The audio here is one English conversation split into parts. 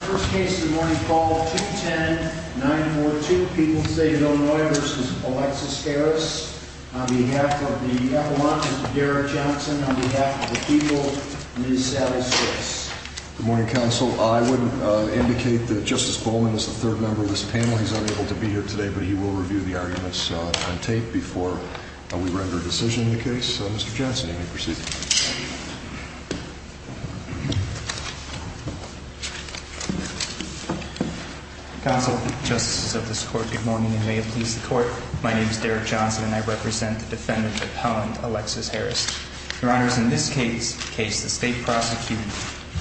First case of the morning, call 210-942, People's State of Illinois v. Alexis Harris, on behalf of the epilogue, Mr. Derek Johnson, on behalf of the people, Ms. Sally Strauss. Good morning, counsel. I would indicate that Justice Bowman is the third member of this panel. He's unable to be here today, but he will review the arguments on tape before we render a decision in the case. Mr. Johnson, you may proceed. Counsel, justices of this court, good morning and may it please the court. My name is Derek Johnson and I represent the defendant, Appellant Alexis Harris. Your honors, in this case, the state prosecuted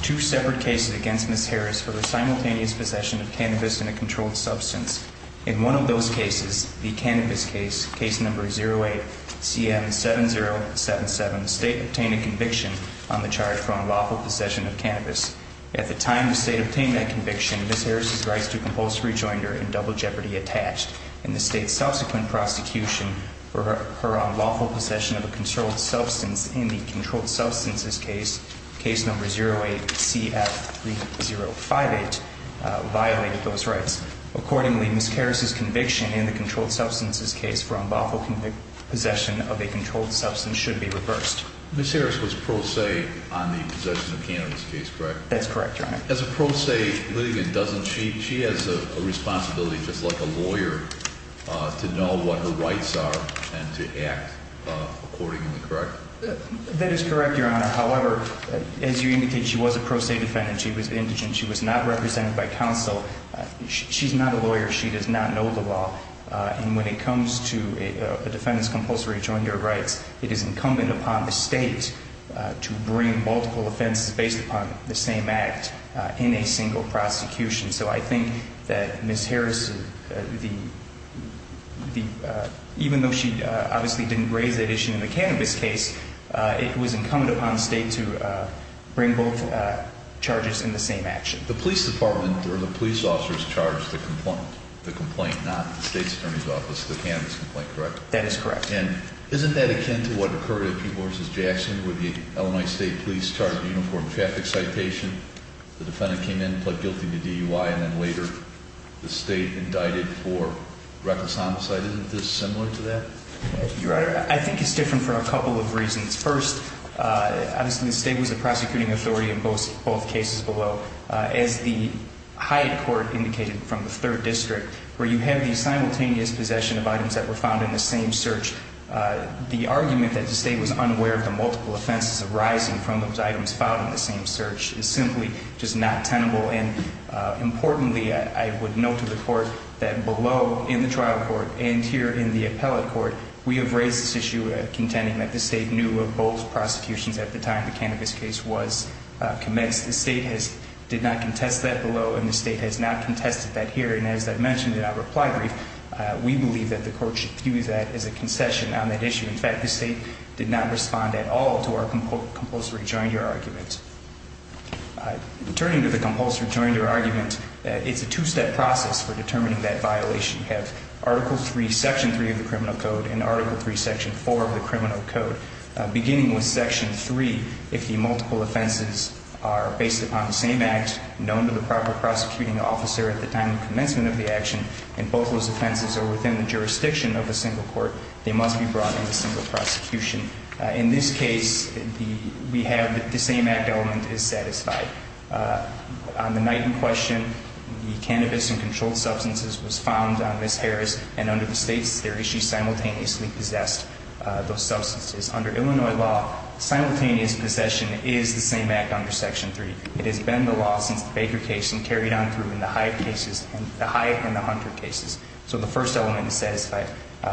two separate cases against Ms. Harris for the simultaneous possession of cannabis and a controlled substance. In one of those cases, the cannabis case, case number 08-CM-7077, the state obtained a conviction on the charge for unlawful possession of cannabis. At the time the state obtained that conviction, Ms. Harris' rights to compulsory joinder and double jeopardy attached. In the state's subsequent prosecution for her unlawful possession of a controlled substance in the controlled substances case, case number 08-CF-3058, violated those rights. Accordingly, Ms. Harris' conviction in the controlled substances case for unlawful possession of a controlled substance should be reversed. Ms. Harris was pro se on the possession of cannabis case, correct? That's correct, your honor. As a pro se litigant, doesn't she, she has a responsibility just like a lawyer to know what her rights are and to act accordingly, correct? That is correct, your honor. However, as you indicated, she was a pro se defendant. She was indigent. She was not represented by counsel. She's not a lawyer. She does not know the law. And when it comes to a defendant's compulsory joinder rights, it is incumbent upon the state to bring multiple offenses based upon the same act in a single prosecution. So I think that Ms. Harris, even though she obviously didn't raise that issue in the cannabis case, it was incumbent upon the state to bring both charges in the same action. The police department or the police officers charged the complaint, not the state's attorney's office, the cannabis complaint, correct? That is correct. And isn't that akin to what occurred at P. Morris' Jackson where the Illinois State Police charged a uniformed traffic citation? The defendant came in, pled guilty to DUI, and then later the state indicted for reckless homicide. Isn't this similar to that? Your honor, I think it's different for a couple of reasons. First, obviously the state was the prosecuting authority in both cases below. As the Hyatt court indicated from the third district, where you have the simultaneous possession of items that were found in the same search, the argument that the state was unaware of the multiple offenses arising from those items found in the same search is simply just not tenable. And importantly, I would note to the court that below in the trial court and here in the appellate court, we have raised this issue contending that the state knew of both prosecutions at the time the cannabis case was commenced. The state did not contest that below, and the state has not contested that here. And as I mentioned in our reply brief, we believe that the court should view that as a concession on that issue. In fact, the state did not respond at all to our compulsory joint your argument. Turning to the compulsory joint your argument, it's a two step process for determining that violation. You have article three, section three of the criminal code and article three, section four of the criminal code, beginning with section three. If the multiple offenses are based upon the same act known to the proper prosecuting officer at the time of commencement of the action, and both those offenses are within the jurisdiction of a single court, they must be brought into single prosecution. In this case, we have the same act element is satisfied. On the night in question, the cannabis and controlled substances was found on Ms. Harris, and under the states, their issues simultaneously possessed those substances. Under Illinois law, simultaneous possession is the same act under section three. It has been the law since the Baker case and carried on through in the Hyatt cases, the Hyatt and the Hunter cases. So the first element is satisfied.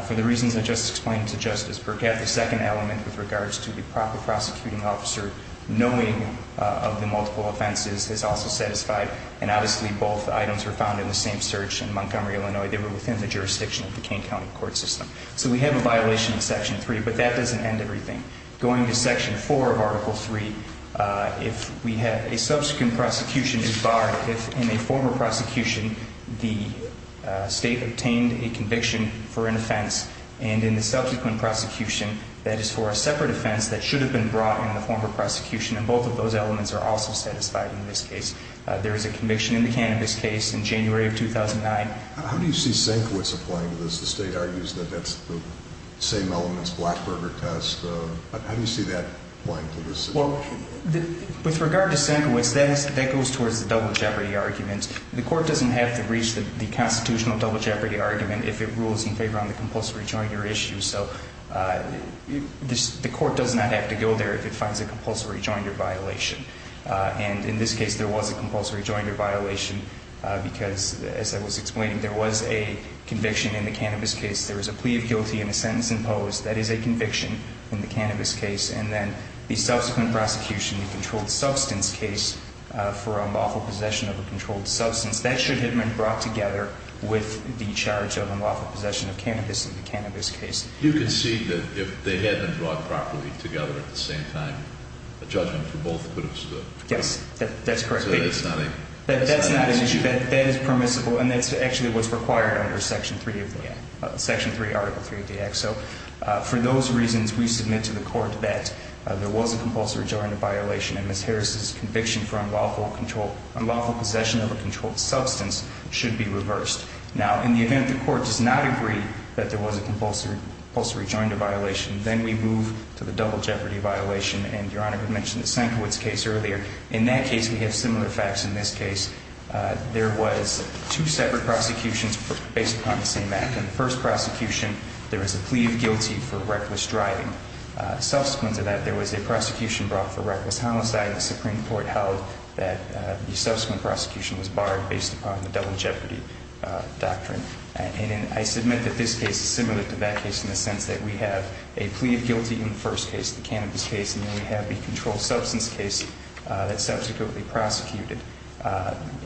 For the reasons I just explained to Justice Burkett, the second element with regards to the proper prosecuting officer knowing of the multiple offenses is also satisfied. And obviously, both items were found in the same search in Montgomery, Illinois. They were within the jurisdiction of the King County court system. So we have a violation of section three, but that doesn't end everything. Going to section four of article three, if we have a subsequent prosecution is barred, if in a former prosecution, the state obtained a conviction for an offense, and in the subsequent prosecution, that is for a separate offense that should have been brought in the former prosecution, and both of those elements are also satisfied in this case. There is a conviction in the cannabis case in January of 2009. How do you see Senkiewicz applying to this? The state argues that that's the same elements, Blackburger test. How do you see that applying to this situation? Well, with regard to Senkiewicz, that goes towards the double jeopardy argument. The court doesn't have to reach the constitutional double jeopardy argument if it rules in favor on the compulsive rejoinder issue. So the court does not have to go there if it finds a compulsive rejoinder violation. And in this case, there was a compulsory rejoinder violation because, as I was explaining, there was a conviction in the cannabis case. There was a plea of guilty and a sentence imposed. That is a conviction in the cannabis case. And then the subsequent prosecution, the controlled substance case for unlawful possession of a controlled substance, that should have been brought together with the charge of unlawful possession of cannabis in the cannabis case. You concede that if they had been brought properly together at the same time, a judgment for both could have stood? Yes, that's correct. So that's not an issue? That's not an issue. That is permissible. And that's actually what's required under Section 3 of the Act, Section 3, Article 3 of the Act. So for those reasons, we submit to the court that there was a compulsive rejoinder violation. And Ms. Harris's conviction for unlawful possession of a controlled substance should be reversed. Now, in the event the court does not agree that there was a compulsory rejoinder violation, then we move to the double jeopardy violation. And Your Honor had mentioned the Senkowitz case earlier. In that case, we have similar facts. In this case, there was two separate prosecutions based upon the same act. In the first prosecution, there was a plea of guilty for reckless driving. Subsequent to that, there was a prosecution brought for reckless homicide. The Supreme Court held that the subsequent prosecution was barred based upon the double jeopardy doctrine. And I submit that this case is similar to that case in the sense that we have a plea of guilty in the first case, the cannabis case, and then we have the controlled substance case that subsequently prosecuted.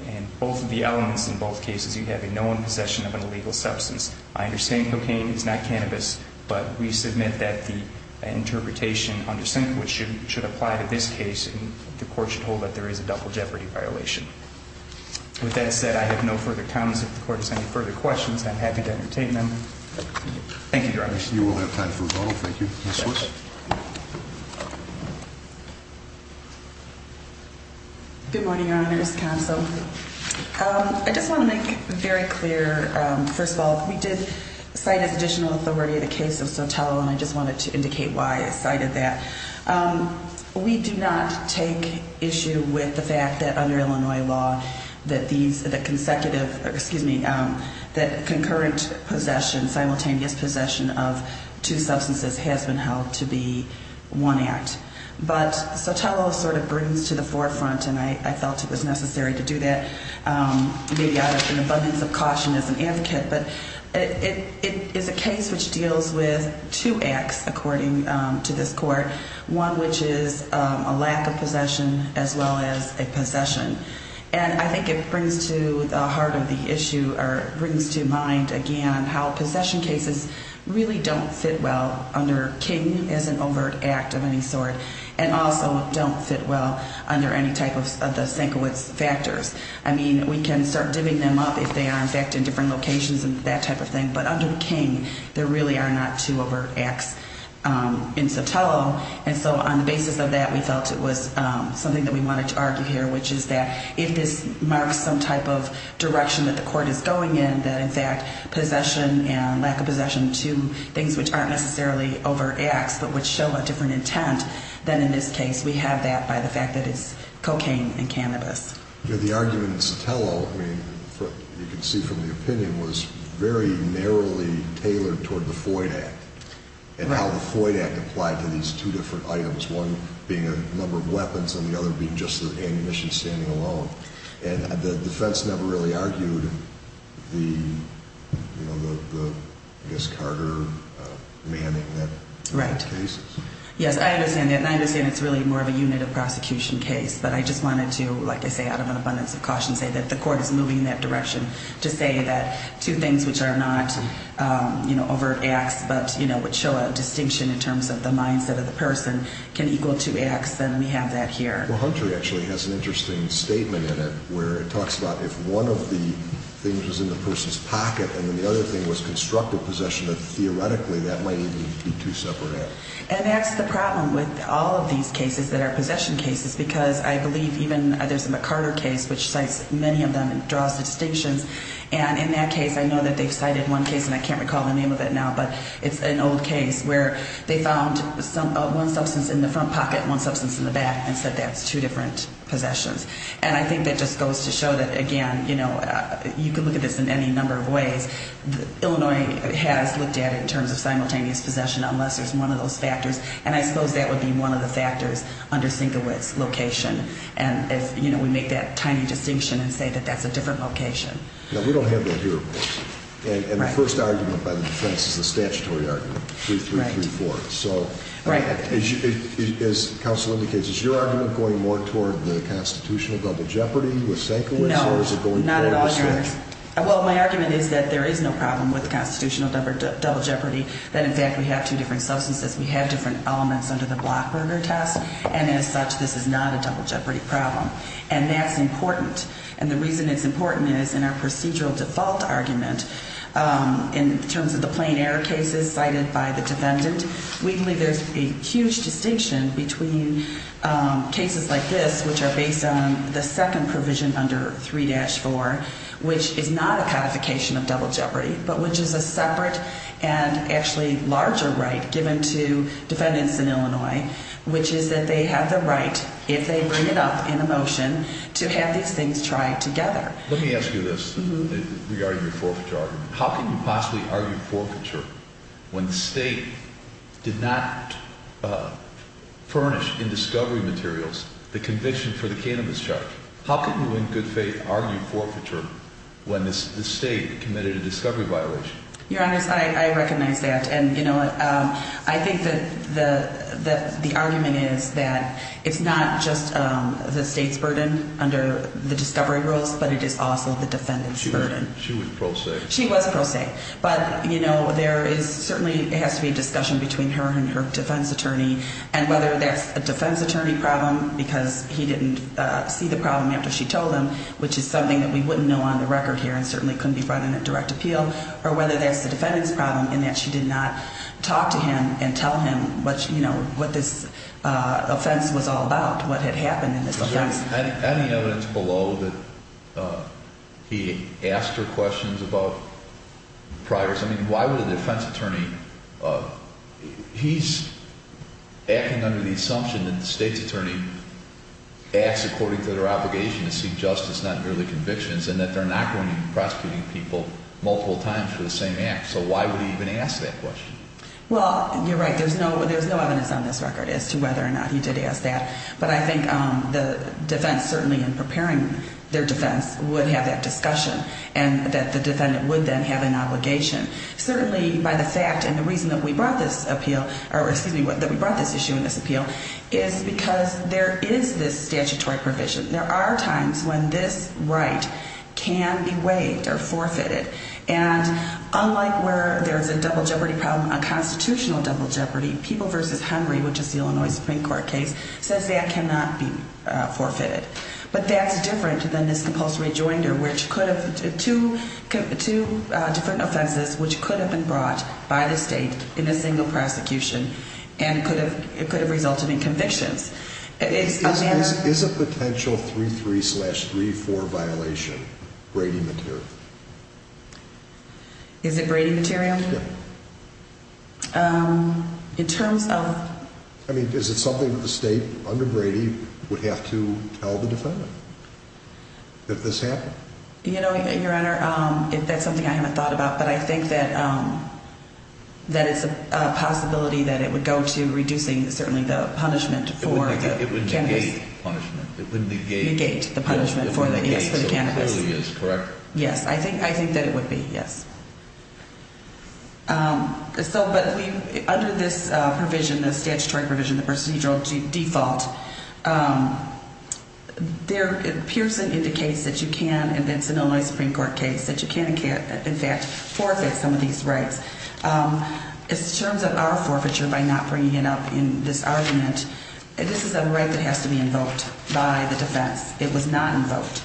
In both of the elements in both cases, you have a known possession of an illegal substance. I understand cocaine is not cannabis, but we submit that the interpretation under Senkowitz should apply to this case and the court should hold that there is a double jeopardy violation. With that said, I have no further comments. If the court has any further questions, I'm happy to entertain them. Thank you, Your Honor. You will have time for a vote. Thank you. Ms. Switz? Good morning, Your Honors, counsel. I just want to make very clear, first of all, we did cite as additional authority the case of Sotelo, and I just wanted to indicate why I cited that. We do not take issue with the fact that under Illinois law that these, that consecutive, excuse me, that concurrent possession, simultaneous possession of two substances has been held to be one act. But Sotelo sort of brings to the forefront, and I felt it was necessary to do that, maybe out of an abundance of caution as an advocate, but it is a case which deals with two acts according to this court, one which is a lack of possession as well as a possession. And I think it brings to the heart of the issue or brings to mind, again, how possession cases really don't fit well under King as an overt act of any sort and also don't fit well under any type of the Senkowitz factors. I mean, we can start divvying them up if they are, in fact, in different locations and that type of thing. But under King, there really are not two overt acts in Sotelo. And so on the basis of that, we felt it was something that we wanted to argue here, which is that if this marks some type of direction that the court is going in, that, in fact, possession and lack of possession, two things which aren't necessarily overt acts but which show a different intent than in this case, we have that by the fact that it's cocaine and cannabis. The argument in Sotelo, I mean, you can see from the opinion, was very narrowly tailored toward the Foyd Act and how the Foyd Act applied to these two different items, one being a number of weapons and the other being just the ammunition standing alone. And the defense never really argued the, I guess, Carter, Manning cases. Right. Yes, I understand that. And I understand it's really more of a unit of prosecution case. But I just wanted to, like I say, out of an abundance of caution, say that the court is moving in that direction to say that two things which are not overt acts but which show a distinction in terms of the mindset of the person can equal two acts, and we have that here. Well, Hunter actually has an interesting statement in it where it talks about if one of the things was in the person's pocket and then the other thing was constructive possession, that theoretically that might even be two separate acts. And that's the problem with all of these cases that are possession cases because I believe even there's a McCarter case which cites many of them and draws the distinctions. And in that case, I know that they've cited one case, and I can't recall the name of it now, but it's an old case where they found one substance in the front pocket and one substance in the back and said that's two different possessions. And I think that just goes to show that, again, you know, you can look at this in any number of ways. Illinois has looked at it in terms of simultaneous possession unless there's one of those factors, and I suppose that would be one of the factors under Sienkiewicz's location. And, you know, we make that tiny distinction and say that that's a different location. Now, we don't have that here, of course. And the first argument by the defense is the statutory argument, 3334. So as counsel indicates, is your argument going more toward the constitutional double jeopardy with Sienkiewicz? No, not at all, Your Honor. Well, my argument is that there is no problem with the constitutional double jeopardy, that in fact we have two different substances, we have different elements under the Blockberger test, and as such this is not a double jeopardy problem. And that's important. And the reason it's important is in our procedural default argument, in terms of the plain error cases cited by the defendant, we believe there's a huge distinction between cases like this, which are based on the second provision under 3-4, which is not a codification of double jeopardy, but which is a separate and actually larger right given to defendants in Illinois, which is that they have the right, if they bring it up in a motion, to have these things tried together. Let me ask you this regarding your forfeiture argument. How can you possibly argue forfeiture when the State did not furnish in discovery materials the conviction for the cannabis charge? How can you in good faith argue forfeiture when the State committed a discovery violation? Your Honor, I recognize that. And, you know, I think that the argument is that it's not just the State's burden under the discovery rules, but it is also the defendant's burden. She was pro se. She was pro se. But, you know, there is certainly has to be a discussion between her and her defense attorney, and whether that's a defense attorney problem because he didn't see the problem after she told him, which is something that we wouldn't know on the record here and certainly couldn't be brought in at direct appeal, or whether that's the defendant's problem in that she did not talk to him and tell him what, you know, what this offense was all about, what had happened in this case. Any evidence below that he asked her questions about priors? I mean, why would a defense attorney? He's acting under the assumption that the State's attorney acts according to their obligation to seek justice, not merely convictions, and that they're not going to be prosecuting people multiple times for the same act. So why would he even ask that question? Well, you're right. There's no evidence on this record as to whether or not he did ask that. But I think the defense certainly in preparing their defense would have that discussion, and that the defendant would then have an obligation. Certainly by the fact and the reason that we brought this appeal, or excuse me, that we brought this issue in this appeal is because there is this statutory provision. There are times when this right can be waived or forfeited. And unlike where there's a double jeopardy problem, a constitutional double jeopardy, People v. Henry, which is the Illinois Supreme Court case, says that cannot be forfeited. But that's different than this compulsory rejoinder, which could have two different offenses, which could have been brought by the State in a single prosecution, and it could have resulted in convictions. Is a potential 3-3 slash 3-4 violation Brady material? Is it Brady material? Yeah. In terms of... I mean, is it something that the State under Brady would have to tell the defendant if this happened? You know, Your Honor, that's something I haven't thought about. But I think that it's a possibility that it would go to reducing certainly the punishment for the cannabis. It would negate punishment. It would negate the punishment for the cannabis. It clearly is, correct? Yes, I think that it would be, yes. But under this provision, this statutory provision, the procedural default, there appears in the case that you can, in the Illinois Supreme Court case, that you can, in fact, forfeit some of these rights. In terms of our forfeiture by not bringing it up in this argument, this is a right that has to be invoked by the defense. It was not invoked.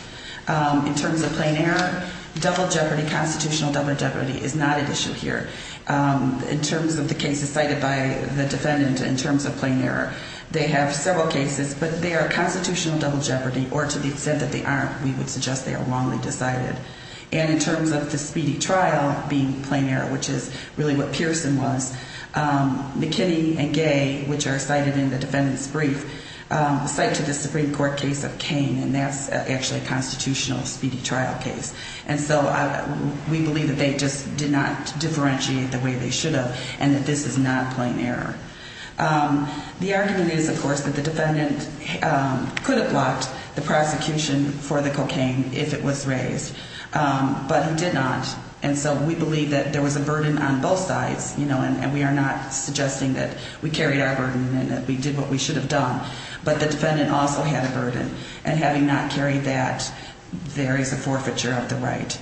In terms of plain error, double jeopardy, constitutional double jeopardy is not at issue here. In terms of the cases cited by the defendant in terms of plain error, they have several cases, but they are constitutional double jeopardy, or to the extent that they aren't, we would suggest they are wrongly decided. And in terms of the speedy trial being plain error, which is really what Pearson was, McKinney and Gay, which are cited in the defendant's brief, cite to the Supreme Court case of Cain, and that's actually a constitutional speedy trial case. And so we believe that they just did not differentiate the way they should have, and that this is not plain error. The argument is, of course, that the defendant could have blocked the prosecution for the cocaine if it was raised, but he did not. And so we believe that there was a burden on both sides, you know, and we are not suggesting that we carried our burden and that we did what we should have done, but the defendant also had a burden, and having not carried that, there is a forfeiture of the right.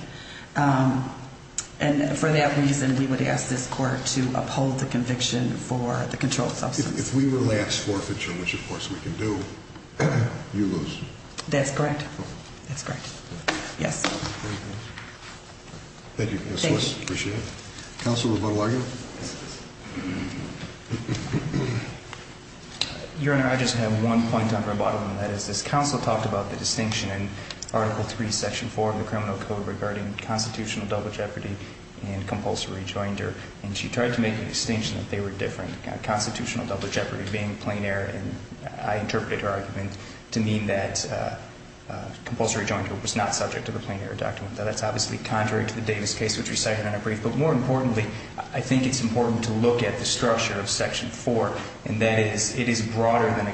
And for that reason, we would ask this Court to uphold the conviction for the controlled substance. If we were to ask for a forfeiture, which, of course, we can do, you lose. That's correct. That's correct. Yes. Thank you, Ms. Swiss. Appreciate it. Counsel, rebuttal argument? Your Honor, I just have one point on rebuttal, and that is this counsel talked about the distinction in Article III, Section 4 of the Criminal Code regarding constitutional double jeopardy and compulsory rejoinder, and she tried to make an distinction that they were different. Constitutional double jeopardy being plain error, and I interpreted her argument to mean that compulsory rejoinder was not subject to the plain error document. Now, that's obviously contrary to the Davis case, which we cited in a brief, but more importantly, I think it's important to look at the structure of Section 4, and that is it is broader than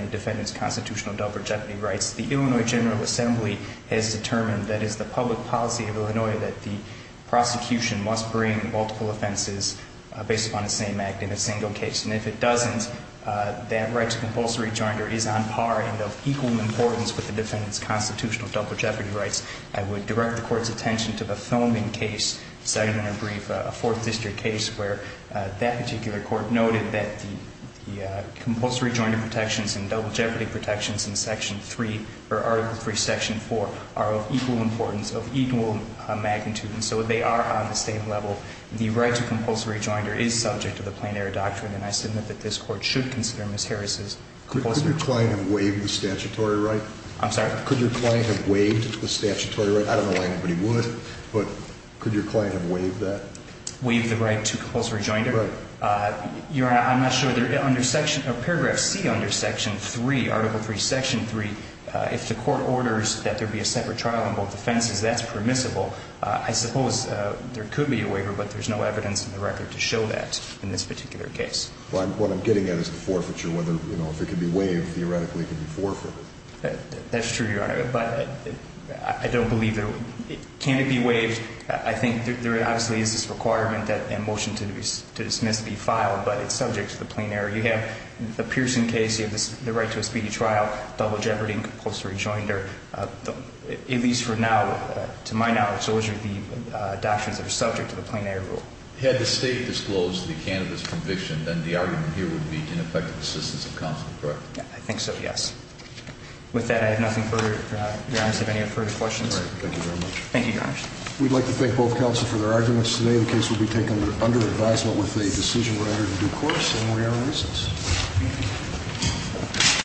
a defendant's constitutional double jeopardy rights. The Illinois General Assembly has determined that it's the public policy of Illinois that the prosecution must bring multiple offenses based upon the same act in a single case. And if it doesn't, that right to compulsory rejoinder is on par and of equal importance with the defendant's constitutional double jeopardy rights. I would direct the Court's attention to the Thoming case, second in a brief, a Fourth District case where that particular court noted that the compulsory rejoinder protections and double jeopardy protections in Section 3 or Article III, Section 4 are of equal importance, of equal magnitude, and so they are on the same level. The right to compulsory rejoinder is subject to the plain error doctrine, and I submit that this Court should consider Ms. Harris's compulsory rejoinder. Could your client have waived the statutory right? I'm sorry? Could your client have waived the statutory right? I don't know why anybody would, but could your client have waived that? Waived the right to compulsory rejoinder? Right. Your Honor, I'm not sure. Under Section or Paragraph C under Section 3, Article III, Section 3, if the Court orders that there be a separate trial on both offenses, that's permissible. I suppose there could be a waiver, but there's no evidence in the record to show that in this particular case. Well, what I'm getting at is the forfeiture, whether, you know, if it could be waived, theoretically it could be forfeited. That's true, Your Honor, but I don't believe it would. Can it be waived? I think there obviously is this requirement that a motion to dismiss be filed, but it's subject to the plain error. You have the Pearson case, you have the right to a speedy trial, double jeopardy and compulsory rejoinder. At least for now, to my knowledge, those would be doctrines that are subject to the plain error rule. Had the State disclosed the candidate's conviction, then the argument here would be ineffective assistance of counsel, correct? I think so, yes. With that, I have nothing further. Your Honor, do you have any further questions? No, Your Honor. Thank you very much. Thank you, Your Honor. We'd like to thank both counsel for their arguments today. The case will be taken under advisement with a decision writer to due course. And we are in recess.